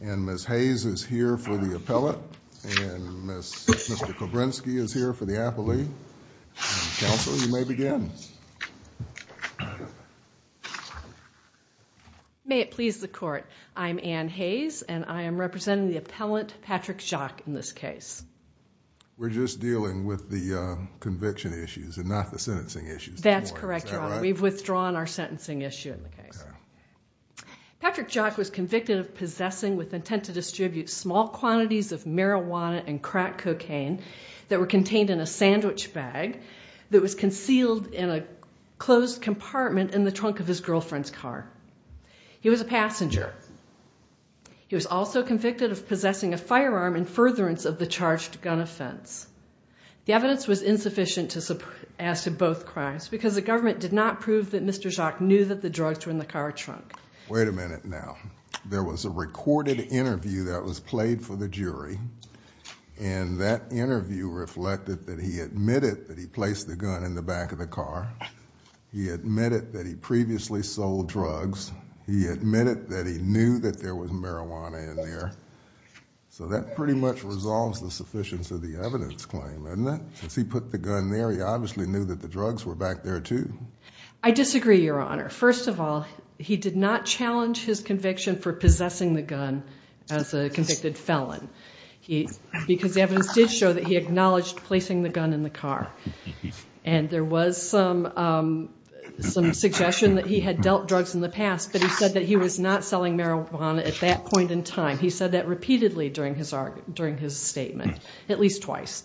and Ms. Hayes is here for the appellate and Mr. Kobrinski is here for the appellee. Counsel, you may begin. May it please the court I'm Anne Hayes and I am representing the appellant Patrick Jacques in this case. We're just dealing with the conviction issues and not the sentencing issues. That's correct. We've withdrawn our sentencing issue in the case. Patrick Jacques was convicted of possessing with intent to distribute small quantities of marijuana and crack cocaine that were contained in a sandwich bag that was concealed in a closed compartment in the trunk of his girlfriend's car. He was a passenger. He was also convicted of possessing a firearm in furtherance of the charged gun offense. The evidence was insufficient to support as to both crimes because the government did not prove that Mr. Jacques knew that the recorded interview that was played for the jury and that interview reflected that he admitted that he placed the gun in the back of the car. He admitted that he previously sold drugs. He admitted that he knew that there was marijuana in there. So that pretty much resolves the sufficiency of the evidence claim, isn't it? Since he put the gun there, he obviously knew that the drugs were back there too. I disagree, Your Honor. First of all, he did not challenge his conviction for possessing the gun as a convicted felon because evidence did show that he acknowledged placing the gun in the car. And there was some suggestion that he had dealt drugs in the past, but he said that he was not selling marijuana at that point in time. He said that repeatedly during his argument, during his statement, at least twice.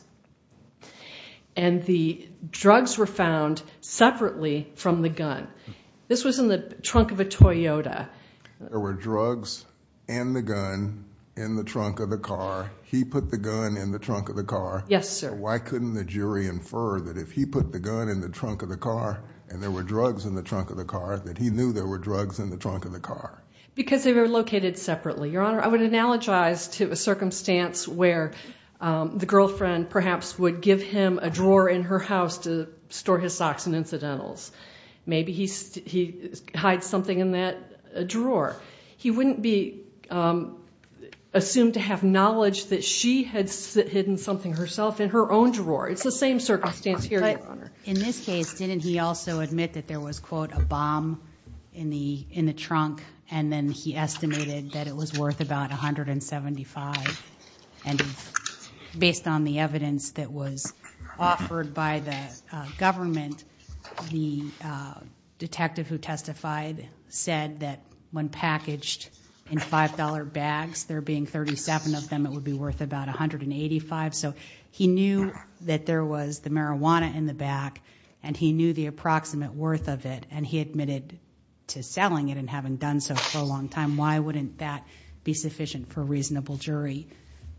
And the drugs were found separately from the gun. This was in the trunk of a Toyota. There were drugs and the gun in the trunk of the car. He put the gun in the trunk of the car. Yes, sir. Why couldn't the jury infer that if he put the gun in the trunk of the car and there were drugs in the trunk of the car that he knew there were drugs in the trunk of the car? Because they were located separately, Your Honor. I would analogize to a circumstance where the girlfriend perhaps would give him a drawer in her house to store his hide something in that drawer. He wouldn't be assumed to have knowledge that she had hidden something herself in her own drawer. It's the same circumstance here, Your Honor. In this case, didn't he also admit that there was, quote, a bomb in the trunk? And then he estimated that it was worth about 175. And based on the evidence that was offered by the government, the detective who testified said that when packaged in $5 bags, there being 37 of them, it would be worth about 185. So he knew that there was the marijuana in the back, and he knew the approximate worth of it, and he admitted to selling it and having done so for a long time. Why wouldn't that be sufficient for a reasonable jury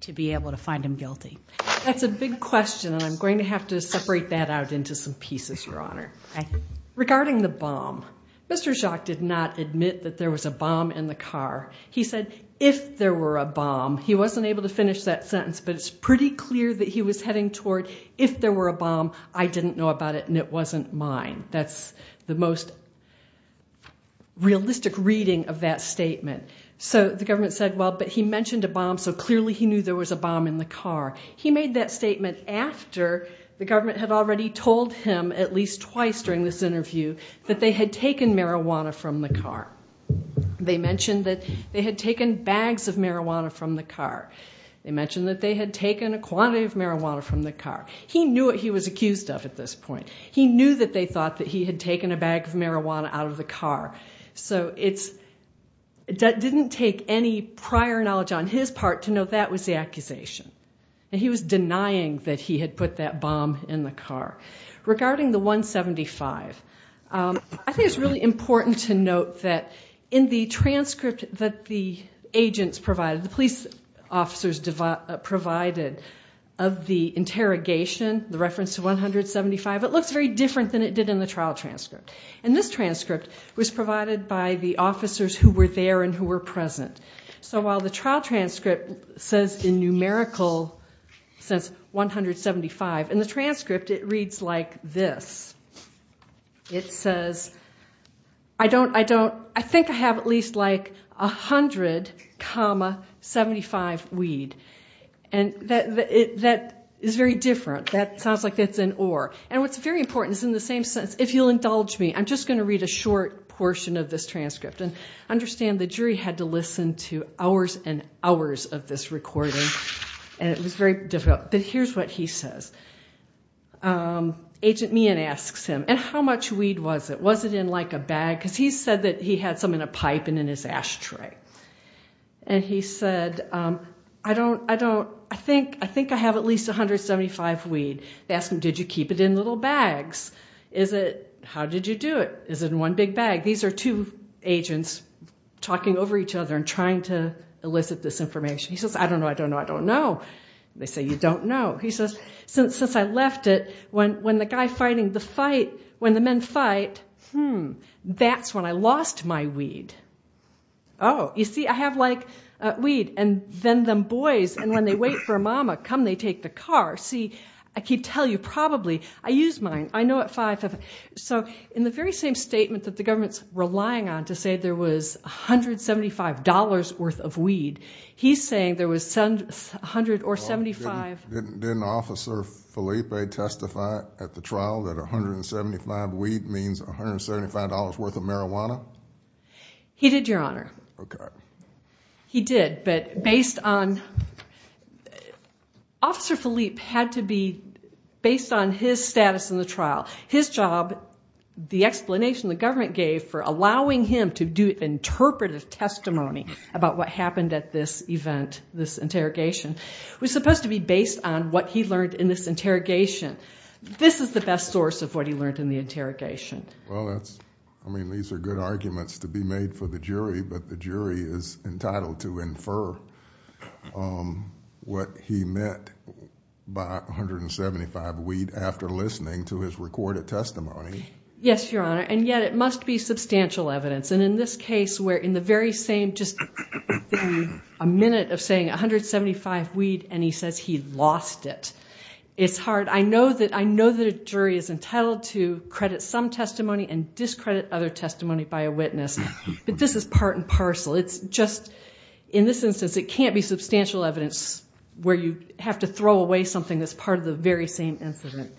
to be able to find him guilty? That's a big question, and I'm going to have to separate that out into some pieces, Your Honor. Regarding the bomb, Mr. Jacques did not admit that there was a bomb in the car. He said if there were a bomb. He wasn't able to finish that sentence, but it's pretty clear that he was heading toward if there were a bomb, I didn't know about it and it wasn't mine. That's the most realistic reading of that statement. So the government said, well, but he mentioned a bomb, so clearly he knew there was a bomb in the car. He made that statement after the government had already told him at least twice during this interview that they had taken marijuana from the car. They mentioned that they had taken bags of marijuana from the car. They mentioned that they had taken a quantity of marijuana from the car. He knew what he was accused of at this point. He knew that they thought that he had taken a bag of marijuana out of the car. So it didn't take any prior knowledge on his part to know that was the accusation, and he was denying that he had put that bomb in the car. Regarding the 175, I think it's really important to note that in the transcript that the agents provided, the police officers provided of the interrogation, the reference to 175, it looks very different than it did in the trial transcript. And this transcript was provided by the officers who were there and who were present. So while the trial In the transcript, it reads like this. It says, I don't, I don't, I think I have at least like 100 comma 75 weed. And that is very different. That sounds like it's an or. And what's very important is in the same sense, if you'll indulge me, I'm just going to read a short portion of this transcript. And understand the jury had to listen to hours and hours of this recording, and it was very difficult. But here's what he says. Agent Meehan asks him, and how much weed was it? Was it in like a bag? Because he said that he had some in a pipe and in his ashtray. And he said, I don't, I don't, I think, I think I have at least 175 weed. They asked him, did you keep it in little bags? Is it, how did you do it? Is it in one big bag? These are two agents talking over each other and trying to elicit this information. He says, I don't know, I don't know, I don't know. They say, you don't know. He says, since I left it, when the guy fighting the fight, when the men fight, hmm, that's when I lost my weed. Oh, you see, I have like weed. And then them boys, and when they wait for a mama, come they take the car. See, I keep telling you, probably, I use mine. I know at five. So in the very same statement that the government's relying on to say there was a hundred seventy-five dollars worth of weed, he's saying there was a hundred or seventy-five. Didn't Officer Felipe testify at the trial that a hundred and seventy-five weed means a hundred seventy-five dollars worth of marijuana? He did, Your Honor. Okay. He did, but based on, Officer Felipe had to be, based on his status in the trial, his job, the explanation the government gave for allowing him to do interpretive testimony about what happened at this event, this interrogation, was supposed to be based on what he learned in this interrogation. This is the best source of what he learned in the interrogation. Well, that's, I mean, these are good arguments to be made for the jury, but the jury is entitled to infer what he meant by a hundred and seventy-five weed after listening to his recorded testimony. Yes, Your Honor, and yet it must be substantial evidence, and in this same, just a minute of saying a hundred seventy-five weed, and he says he lost it. It's hard. I know that, I know that a jury is entitled to credit some testimony and discredit other testimony by a witness, but this is part and parcel. It's just, in this instance, it can't be substantial evidence where you have to throw away something that's part of the very same incident.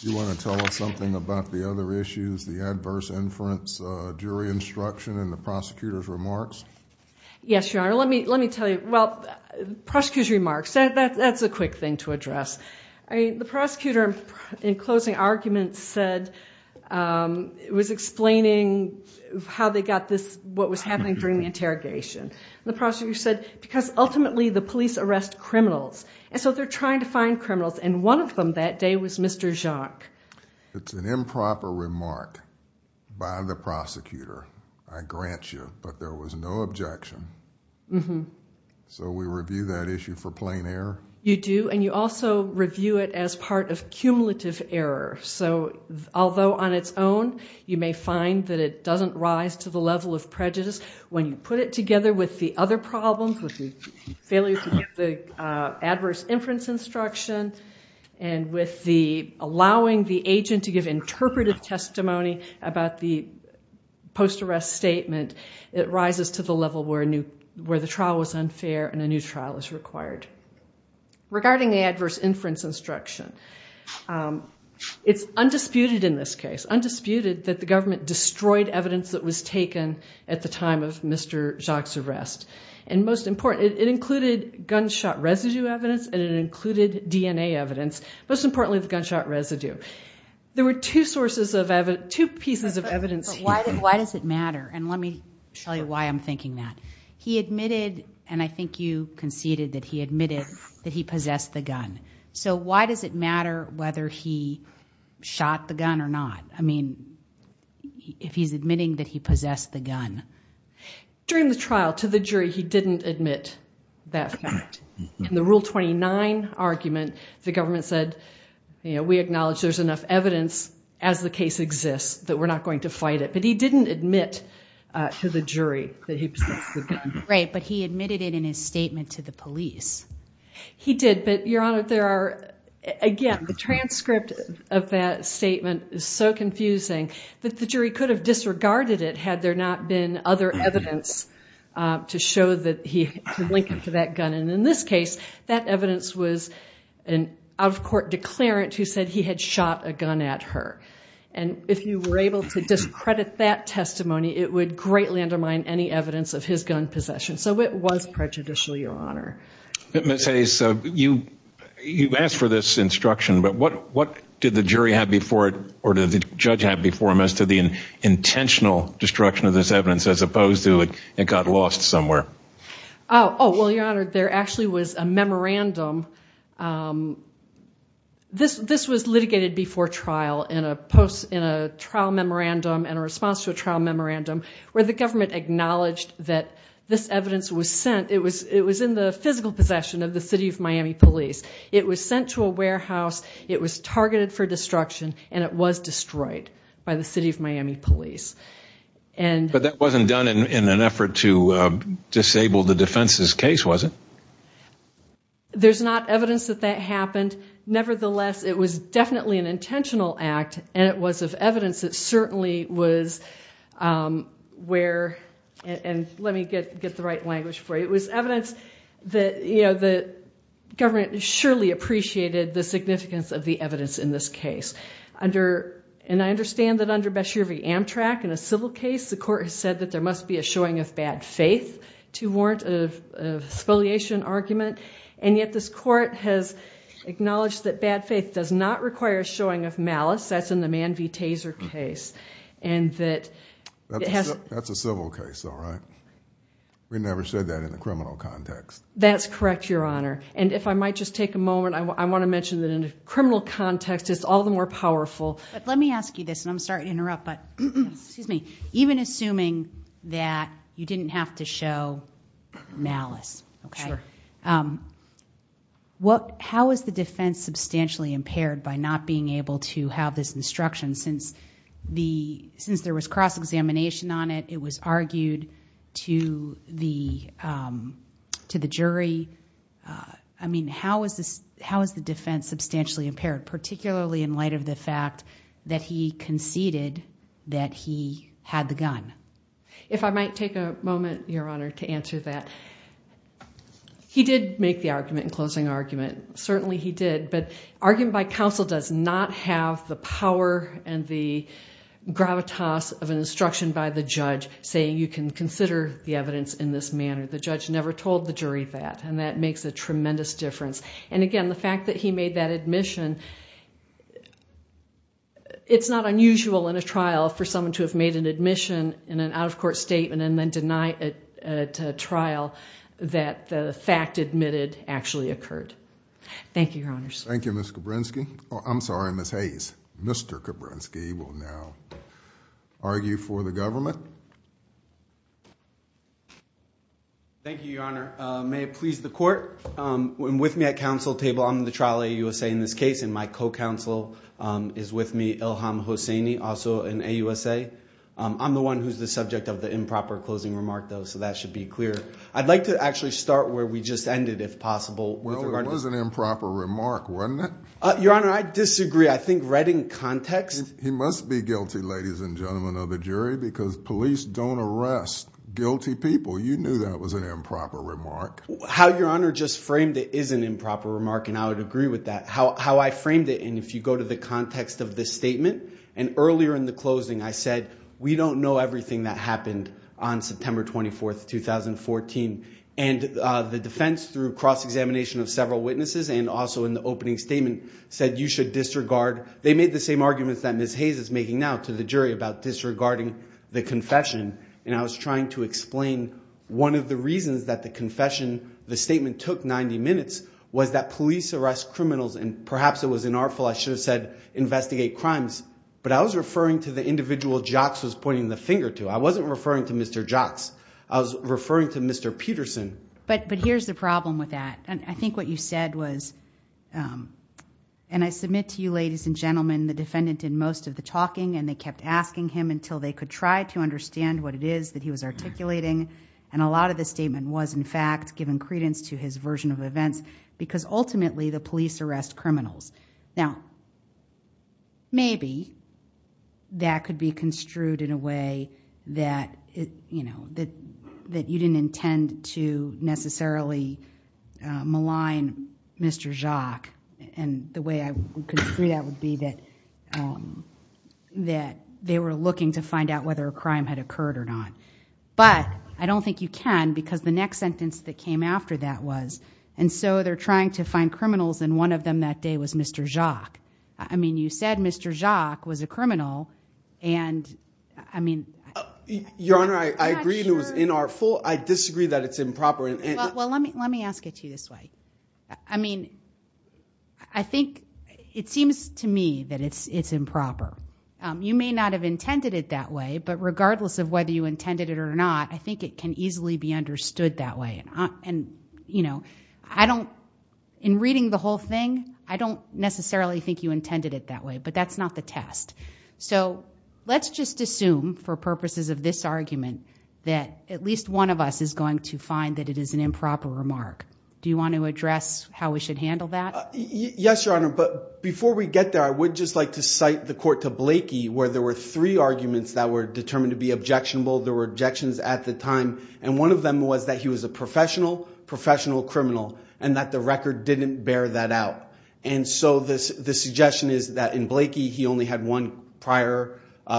You want to tell us something about the other issues, the adverse inference, jury instruction, and Yes, Your Honor, let me, let me tell you, well, the prosecutor's remarks, that's a quick thing to address. I mean, the prosecutor, in closing arguments, said, it was explaining how they got this, what was happening during the interrogation. The prosecutor said, because ultimately the police arrest criminals, and so they're trying to find criminals, and one of them that day was Mr. Jacques. It's an objection. So we review that issue for plain error? You do, and you also review it as part of cumulative error. So, although on its own, you may find that it doesn't rise to the level of prejudice, when you put it together with the other problems, with the failure to give the adverse inference instruction, and with the allowing the agent to give interpretive testimony about the post-arrest statement, it rises to the level where a new, where the trial was unfair, and a new trial is required. Regarding the adverse inference instruction, it's undisputed in this case, undisputed that the government destroyed evidence that was taken at the time of Mr. Jacques' arrest, and most important, it included gunshot residue evidence, and it included DNA evidence. Most importantly, the gunshot residue. There were two sources of evidence, two pieces of evidence. Why does it matter? And let me tell you why I'm thinking that. He admitted, and I think you conceded that he admitted, that he possessed the gun. So why does it matter whether he shot the gun or not? I mean, if he's admitting that he possessed the gun. During the trial, to the jury, he didn't admit that fact. In the Rule 29 argument, the government said, you know, we acknowledge there's enough evidence as the case exists that we're not going to fight it. But he didn't admit to the jury that he possessed the gun. Right, but he admitted it in his statement to the police. He did, but Your Honor, there are, again, the transcript of that statement is so confusing that the jury could have disregarded it had there not been other evidence to show that he could link it to that gun. And in this case, that evidence was an out-of-court declarant who said he had shot a gun at her. And if you were able to discredit that testimony, it would greatly undermine any evidence of his gun possession. So it was prejudicial, Your Honor. Ms. Hayes, you've asked for this instruction, but what did the jury have before it, or did the judge have before him, as to the intentional destruction of this evidence, as opposed to it got lost somewhere? Oh, well, Your Honor, there actually was a trial. This was litigated before trial in a post, in a trial memorandum and a response to a trial memorandum, where the government acknowledged that this evidence was sent. It was in the physical possession of the City of Miami Police. It was sent to a warehouse, it was targeted for destruction, and it was destroyed by the City of Miami Police. But that wasn't done in an evidence that that happened. Nevertheless, it was definitely an intentional act, and it was of evidence that certainly was where, and let me get get the right language for you, it was evidence that, you know, the government surely appreciated the significance of the evidence in this case. And I understand that under Beshear v. Amtrak, in a civil case, the court has said that there must be a showing of bad faith to warrant a spoliation argument. And yet this court has acknowledged that bad faith does not require showing of malice. That's in the Mann v. Taser case. And that... That's a civil case, all right? We never said that in the criminal context. That's correct, Your Honor. And if I might just take a moment, I want to mention that in a criminal context, it's all the more powerful... But let me ask you this, and I'm sorry to interrupt, but excuse me. Even assuming that you didn't have to show malice, okay? Sure. How is the defense substantially impaired by not being able to have this instruction? Since there was cross-examination on it, it was argued to the jury. I mean, how is the defense substantially impaired, particularly in the fact that he conceded that he had the gun? If I might take a moment, Your Honor, to answer that. He did make the argument in closing argument. Certainly he did, but argument by counsel does not have the power and the gravitas of an instruction by the judge saying you can consider the evidence in this manner. The judge never told the jury that, and that makes a tremendous difference. And again, the fact that he made that admission, it's not unusual in a trial for someone to have made an admission in an out-of-court statement and then deny it at a trial that the fact admitted actually occurred. Thank you, Your Honors. Thank you, Ms. Kabrinsky. Oh, I'm sorry, Ms. Hayes. Mr. Kabrinsky will now argue for the government. Thank you, Your Honor. May it please the court. I'm with me at the counsel table. I'm the trial AUSA in this case, and my co-counsel is with me, Ilham Hosseini, also an AUSA. I'm the one who's the subject of the improper closing remark, though, so that should be clear. I'd like to actually start where we just ended, if possible. Well, it was an improper remark, wasn't it? Your Honor, I disagree. I think right in context. He must be guilty, ladies and gentlemen of the jury, because police don't arrest guilty people. You knew that was an improper remark, and I would agree with that. How I framed it, and if you go to the context of this statement, and earlier in the closing I said we don't know everything that happened on September 24th, 2014, and the defense through cross-examination of several witnesses and also in the opening statement said you should disregard. They made the same arguments that Ms. Hayes is making now to the jury about disregarding the confession, and I was trying to explain one of the reasons that the confession, the statement took 90 minutes, was that police arrest criminals, and perhaps it was inartful. I should have said investigate crimes, but I was referring to the individual Jocks was pointing the finger to. I wasn't referring to Mr. Jocks. I was referring to Mr. Peterson. But here's the problem with that, and I think what you said was, and I submit to you ladies and gentlemen, the defendant in most of the talking, and they kept asking him until they could try to understand what it is that he was articulating, and a lot of the statement was in fact given credence to his version of events, because ultimately the police arrest criminals. Now, maybe that could be construed in a way that you didn't intend to necessarily malign Mr. Jock, and the way I would construe that would be that they were looking to find out whether a crime had occurred or not, but I don't think you can, because the next sentence that came after that was, and so they're trying to find criminals, and one of them that day was Mr. Jock. I mean, you said Mr. Jock was a criminal, and I mean. Your Honor, I agree it was inartful. I disagree that it's improper. Well, let me let me ask it to you this way. I mean, I think it seems to me that it's improper. You may not have intended it that way, but I think it can easily be understood that way, and you know, I don't, in reading the whole thing, I don't necessarily think you intended it that way, but that's not the test, so let's just assume for purposes of this argument that at least one of us is going to find that it is an improper remark. Do you want to address how we should handle that? Yes, Your Honor, but before we get there, I would just like to cite the court to Blakey, where there were three arguments that were determined to be objectionable. There were objections at the time, and one of them was that he was a professional, professional criminal, and that the record didn't bear that out, and so the suggestion is that in Blakey, he only had one prior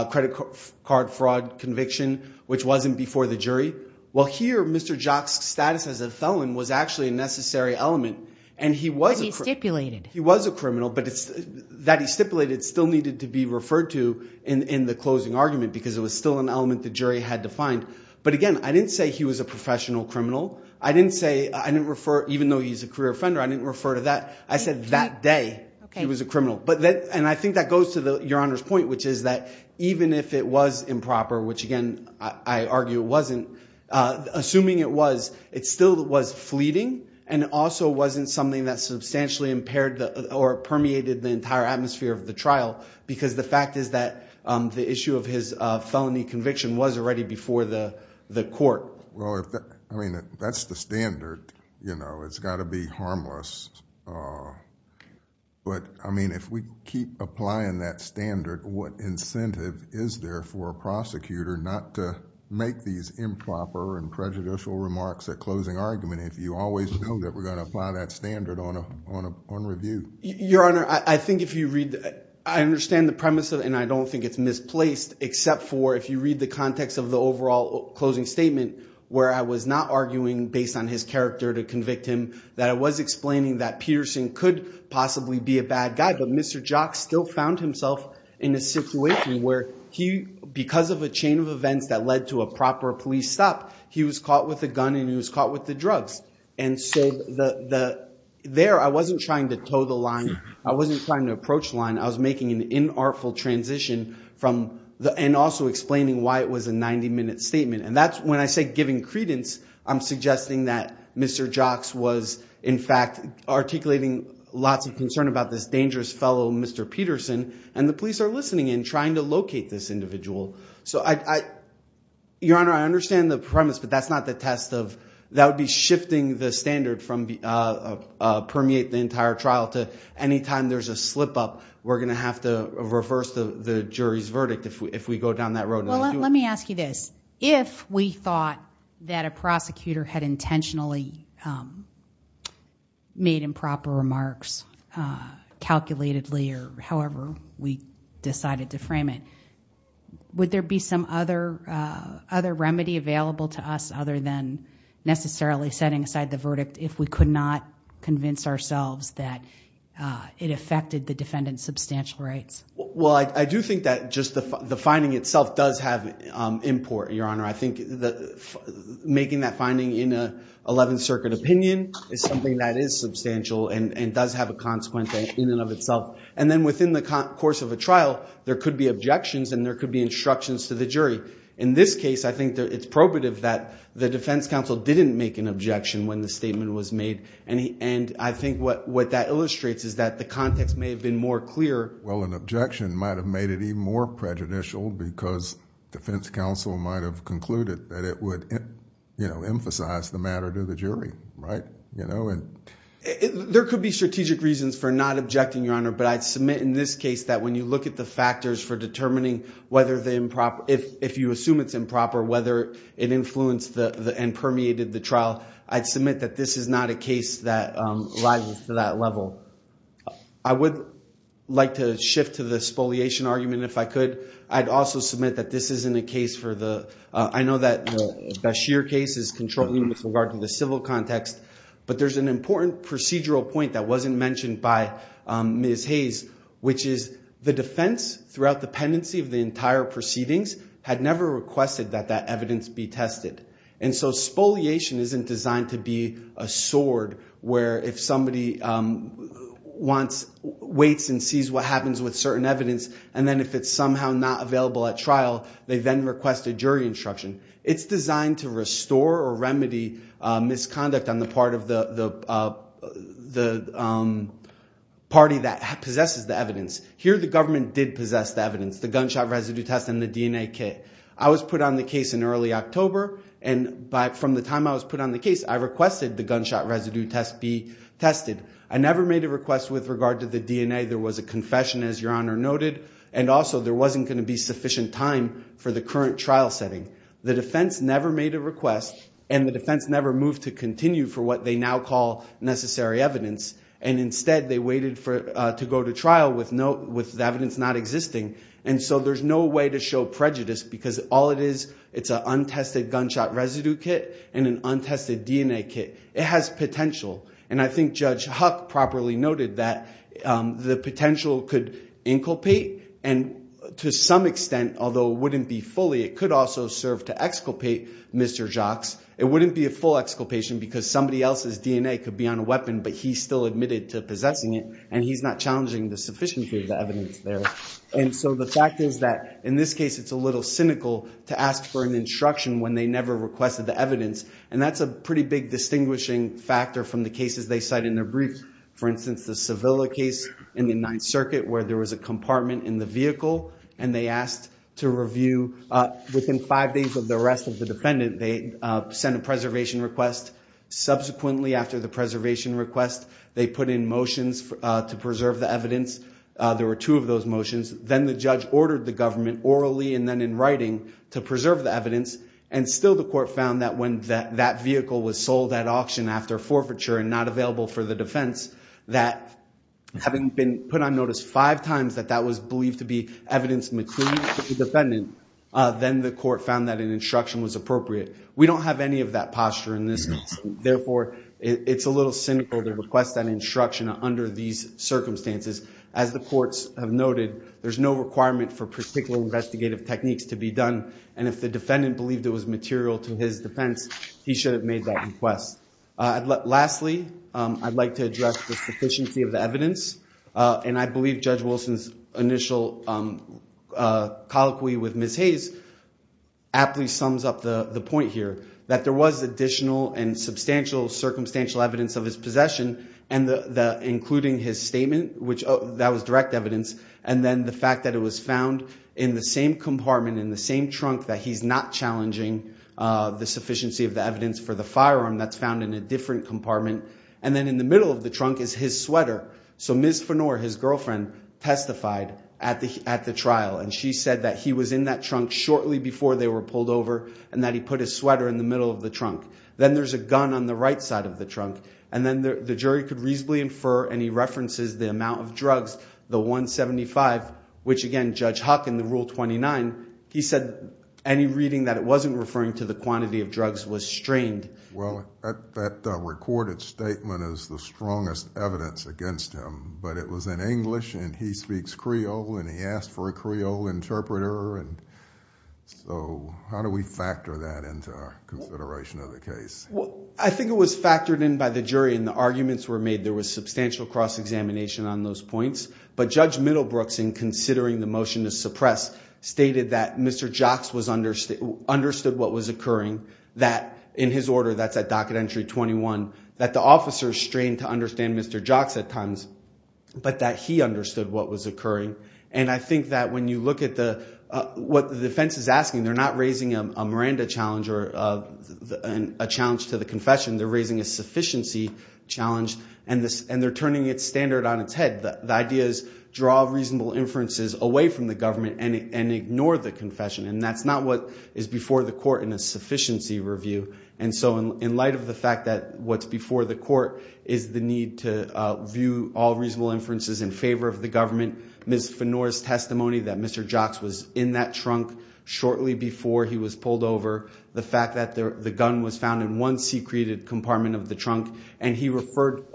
credit card fraud conviction, which wasn't before the jury. Well, here, Mr. Jock's status as a felon was actually a necessary element, and he was a criminal, but that he stipulated still needed to be because it was still an element the jury had to find, but again, I didn't say he was a professional criminal. I didn't say, I didn't refer, even though he's a career offender, I didn't refer to that. I said that day he was a criminal, but that, and I think that goes to the Your Honor's point, which is that even if it was improper, which again, I argue it wasn't, assuming it was, it still was fleeting, and it also wasn't something that substantially impaired the, or permeated the entire atmosphere of the trial, because the fact is that the issue of his felony conviction was already before the court. Well, I mean, that's the standard, you know, it's got to be harmless, but I mean, if we keep applying that standard, what incentive is there for a prosecutor not to make these improper and prejudicial remarks at closing argument if you always know that we're going to apply that standard on a, on a, on review? Your Honor, I think if you read, I understand the premise of it, and I don't think it's misplaced except for, if you read the context of the overall closing statement, where I was not arguing based on his character to convict him, that I was explaining that Peterson could possibly be a bad guy, but Mr. Jock still found himself in a situation where he, because of a chain of events that led to a proper police stop, he was caught with a gun and he was caught with the drugs, and so the, the, there, I wasn't trying to toe the line, I wasn't trying to approach the line, I was making an inartful transition from the, and also explaining why it was a 90 minute statement, and that's, when I say giving credence, I'm suggesting that Mr. Jocks was, in fact, articulating lots of concern about this dangerous fellow, Mr. Peterson, and the police are listening and trying to locate this individual. So I, I, Your Honor, I understand the premise, but that's not the test of, that would be shifting the standard from the, permeate the entire trial to any time there's a slip-up, we're gonna have to reverse the, the jury's verdict if we, if we go down that road. Well, let me ask you this, if we thought that a prosecutor had intentionally made improper remarks, calculatedly, or however we decided to frame it, would there be some other, other remedy available to us, other than necessarily setting aside the verdict, if we could not convince ourselves that it affected the defendant's substantial rights? Well, I, I do think that just the, the finding itself does have import, Your Honor. I think that making that finding in a Eleventh Circuit opinion is something that is substantial and, and does have a consequent in and of itself, and then within the course of a trial, there could be objections and there could be instructions to the jury. In this case, I think that it's probative that the defense counsel didn't make an objection when the statement was made, and he, and I think what, what that context may have been more clear. Well, an objection might have made it even more prejudicial because defense counsel might have concluded that it would, you know, emphasize the matter to the jury, right? You know, and. There could be strategic reasons for not objecting, Your Honor, but I'd submit in this case that when you look at the factors for determining whether the improper, if, if you assume it's improper, whether it influenced the, the, and permeated the I would like to shift to the spoliation argument if I could. I'd also submit that this isn't a case for the, I know that Bashir case is controlling with regard to the civil context, but there's an important procedural point that wasn't mentioned by Ms. Hayes, which is the defense throughout the pendency of the entire proceedings had never requested that that evidence be tested, and so spoliation isn't designed to be a sword where if somebody wants, waits and sees what happens with certain evidence, and then if it's somehow not available at trial, they then request a jury instruction. It's designed to restore or remedy misconduct on the part of the, the, the party that possesses the evidence. Here the government did possess the evidence, the gunshot residue test and the DNA kit. I was put on the case in early October, and by, from the time I was put on the case, I requested the gunshot residue test be tested. I never made a request with regard to the DNA. There was a confession, as Your Honor noted, and also there wasn't going to be sufficient time for the current trial setting. The defense never made a request, and the defense never moved to continue for what they now call necessary evidence, and instead they waited for, to go to trial with no, with evidence not existing, and so there's no way to show prejudice because all it is, it's an untested gunshot residue kit and an untested DNA kit. It has potential, and I think Judge Huck properly noted that the potential could inculpate, and to some extent, although wouldn't be fully, it could also serve to exculpate Mr. Jacques. It wouldn't be a full exculpation because somebody else's DNA could be on a weapon, but he still admitted to possessing it, and he's not challenging the sufficiency of the evidence there, and so the fact is that in this case, it's a little cynical to ask for an instruction when they never requested the evidence, and that's a pretty big distinguishing factor from the cases they cite in their briefs. For instance, the Sevilla case in the Ninth Circuit where there was a compartment in the vehicle, and they asked to review within five days of the arrest of the defendant. They sent a preservation request. Subsequently, after the preservation request, they put in motions to preserve the evidence. There were two of those motions. Then the judge ordered the government orally and then in writing to preserve the evidence, and still the court found that when that vehicle was sold at auction after forfeiture and not available for the defense, that having been put on notice five times that that was believed to be evidence material for the defendant, then the court found that an instruction was appropriate. We don't have any of that posture in this case. Therefore, it's a little cynical to request that under these circumstances. As the courts have noted, there's no requirement for particular investigative techniques to be done, and if the defendant believed it was material to his defense, he should have made that request. Lastly, I'd like to address the sufficiency of the evidence, and I believe Judge Wilson's initial colloquy with Ms. Hayes aptly sums up the point here, that there was additional and substantial circumstantial evidence of his statement, which that was direct evidence, and then the fact that it was found in the same compartment, in the same trunk, that he's not challenging the sufficiency of the evidence for the firearm that's found in a different compartment, and then in the middle of the trunk is his sweater. So Ms. Fenore, his girlfriend, testified at the trial, and she said that he was in that trunk shortly before they were pulled over, and that he put his sweater in the middle of the trunk. Then there's a gun on the right side of the trunk, and then the jury could reasonably infer, and he references the amount of drugs, the 175, which again, Judge Huck, in the Rule 29, he said any reading that it wasn't referring to the quantity of drugs was strained. Well, that recorded statement is the strongest evidence against him, but it was in English, and he speaks Creole, and he asked for a Creole interpreter, and so how do we factor that into our consideration of the case? I think it was factored in by the jury, and the arguments were made. There was substantial cross-examination on those points, but Judge Middlebrooks, in considering the motion to suppress, stated that Mr. Jocks understood what was occurring, that in his order, that's at docket entry 21, that the officer strained to understand Mr. Jocks at times, but that he understood what was occurring, and I think that when you look at what the defense is asking, they're not raising a Miranda challenge or a challenge to the confession. They're raising a sufficiency challenge, and they're turning its standard on its head. The idea is draw reasonable inferences away from the government and ignore the confession, and that's not what is before the court in a sufficiency review, and so in light of the fact that what's before the court is the need to view all reasonable inferences in favor of the government, Ms. Fenora's testimony that Mr. Jocks was in that trunk shortly before he was pulled over, the fact that the gun was found in one secreted compartment of the trunk, and he referred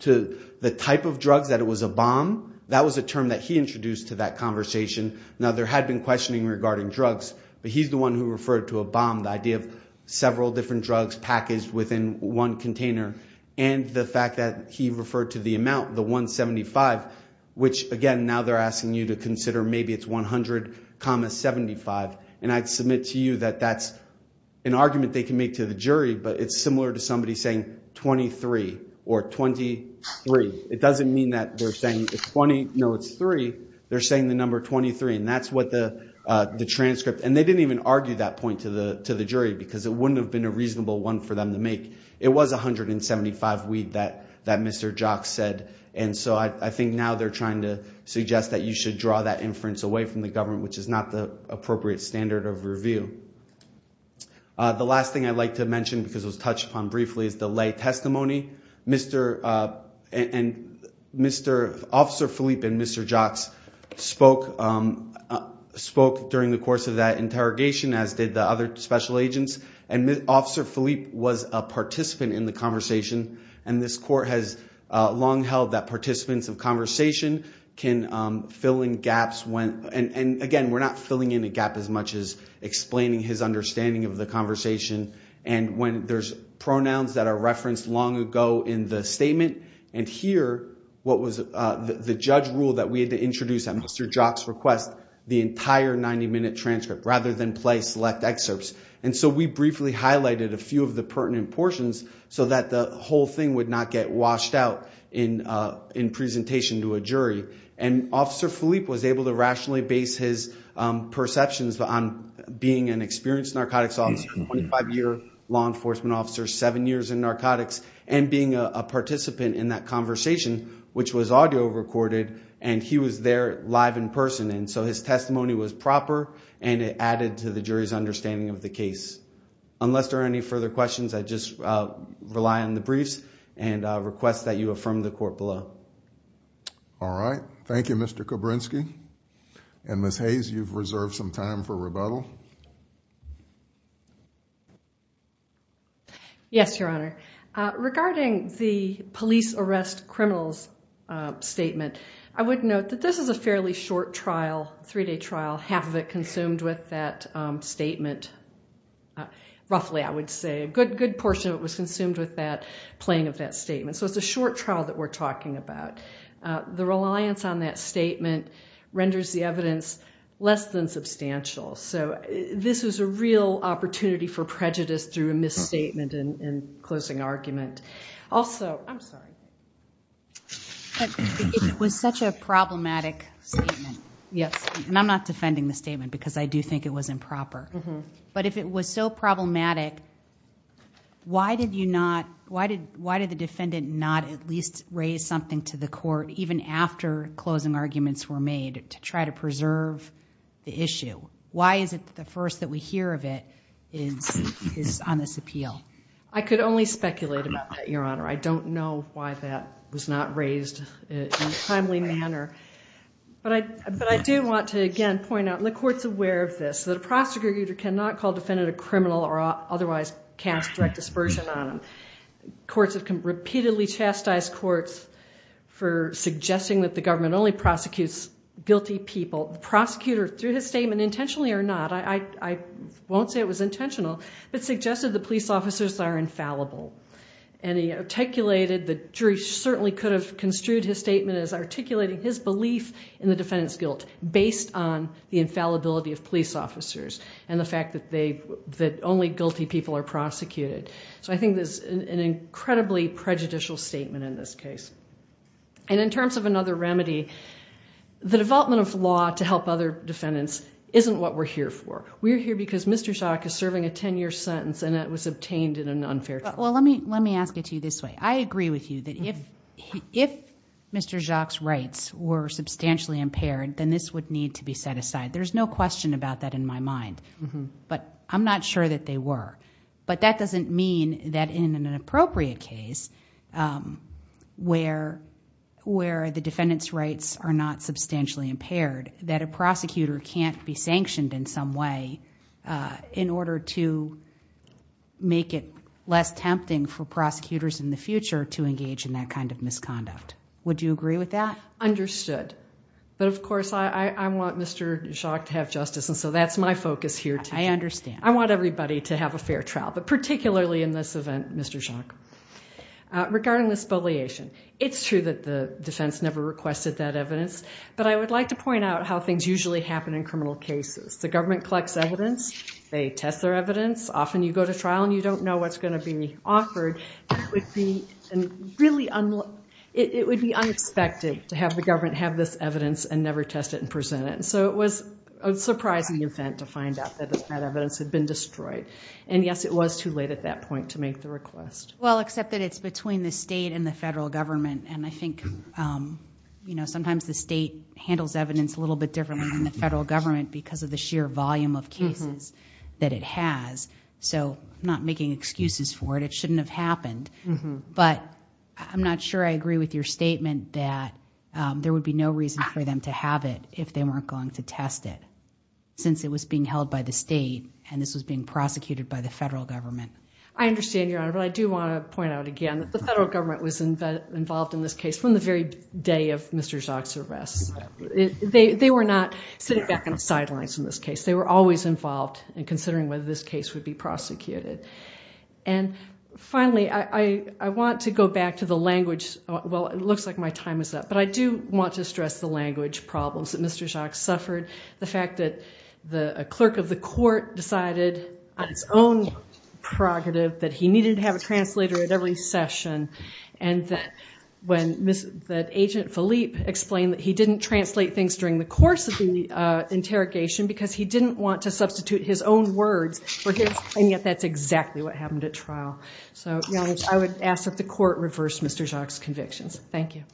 to the type of drugs, that it was a bomb, that was a term that he introduced to that conversation. Now, there had been questioning regarding drugs, but he's the one who referred to a bomb, the idea of several different drugs packaged within one container, and the fact that he referred to the amount, the number, and now they're asking you to consider maybe it's 100 comma 75, and I'd submit to you that that's an argument they can make to the jury, but it's similar to somebody saying 23 or 23. It doesn't mean that they're saying it's 20. No, it's three. They're saying the number 23, and that's what the transcript, and they didn't even argue that point to the jury because it wouldn't have been a reasonable one for them to make. It was 175 weed that Mr. Jocks said, and so I think now they're trying to suggest that you should draw that inference away from the government, which is not the appropriate standard of review. The last thing I'd like to mention, because it was touched upon briefly, is the lay testimony. Officer Phillipe and Mr. Jocks spoke during the course of that interrogation, as did the other special agents, and Officer Phillipe was a participant in the conversation, and this court has long held that participants of conversation can fill in gaps when, and again we're not filling in a gap as much as explaining his understanding of the conversation, and when there's pronouns that are referenced long ago in the statement, and here what was the judge rule that we had to introduce at Mr. Jocks' request, the entire 90-minute transcript rather than play select excerpts, and so we briefly highlighted a few of the pertinent portions so that the whole thing would not get washed out in presentation to a jury, and Officer Phillipe was able to rationally base his perceptions on being an experienced narcotics officer, a 25-year law enforcement officer, seven years in narcotics, and being a participant in that conversation, which was audio recorded, and he was there live in person, and so his testimony was proper, and it added to the jury's understanding of the case. Unless there are any further questions, I just rely on the briefs and requests that you affirm the court below. All right, thank you Mr. Kobrynsky, and Ms. Hayes, you've reserved some time for rebuttal. Yes, Your Honor, regarding the police arrest criminals statement, I would note that this is a fairly short trial, three-day trial, half of it consumed with that statement, roughly I would say a good portion of it was consumed with that playing of that statement, so it's a short trial that we're talking about. The reliance on that statement renders the evidence less than substantial, so this is a real opportunity for prejudice through a misstatement and closing argument. Also, I'm sorry. It was such a problematic statement, yes, and I'm not defending the statement because I do think it was improper, but if it was so problematic, why did you not, why did the defendant not at least raise something to the court even after closing arguments were made to try to preserve the issue? Why is it the first that we hear of it is on this appeal? I could only speculate about that, Your Honor. I don't know why that was not raised in a timely manner, but I do want to again point out, and the court's aware of this, that a prosecutor cannot call defendant a defendant. Courts have repeatedly chastised courts for suggesting that the government only prosecutes guilty people. The prosecutor, through his statement, intentionally or not, I won't say it was intentional, but suggested the police officers are infallible, and he articulated, the jury certainly could have construed his statement as articulating his belief in the defendant's guilt based on the infallibility of police officers and the fact that only guilty people are an incredibly prejudicial statement in this case. In terms of another remedy, the development of law to help other defendants isn't what we're here for. We're here because Mr. Jacques is serving a 10-year sentence and it was obtained in an unfair trial. Well, let me ask it to you this way. I agree with you that if Mr. Jacques' rights were substantially impaired, then this would need to be set aside. There's no question about that in my mind, but I'm not sure that they were, but that doesn't mean that in an appropriate case where the defendant's rights are not substantially impaired, that a prosecutor can't be sanctioned in some way in order to make it less tempting for prosecutors in the future to engage in that kind of misconduct. Would you agree with that? Understood. But of course, I want Mr. Jacques to have justice and so that's my focus here too. I understand. I want everybody to have a fair trial, but particularly in this event, Mr. Jacques. Regarding the spoliation, it's true that the defense never requested that evidence, but I would like to point out how things usually happen in criminal cases. The government collects evidence. They test their evidence. Often you go to trial and you don't know what's going to be offered. It would be unexpected to have the government have this evidence and never test it and present it. It was a surprising event to find out that the evidence had been destroyed. And yes, it was too late at that point to make the request. Well, except that it's between the state and the federal government and I think sometimes the state handles evidence a little bit differently than the federal government because of the sheer volume of cases that it has, so I'm not making excuses for it. It shouldn't have happened, but I'm not sure I agree with your statement that there would be no reason for them to have it if they weren't going to test it since it was being held by the state and this was being prosecuted by the federal government. I understand, Your Honor, but I do want to point out again that the federal government was involved in this case from the very day of Mr. Jacques's arrest. They were not sitting back on the sidelines in this case. They were always involved in considering whether this case would be prosecuted. And finally, I want to go back to the language. Well, it looks like my time is up, but I do want to stress the language problems that Mr. Jacques suffered. The fact that a clerk of the court decided on his own prerogative that he needed to have a translator at every session and that Agent Philippe explained that he didn't translate things during the course of the interrogation because he didn't want to substitute his own words for his, and yet that's exactly what happened at trial. So, Your Honor, I would ask that the court reverse Mr. Jacques's convictions. Thank you.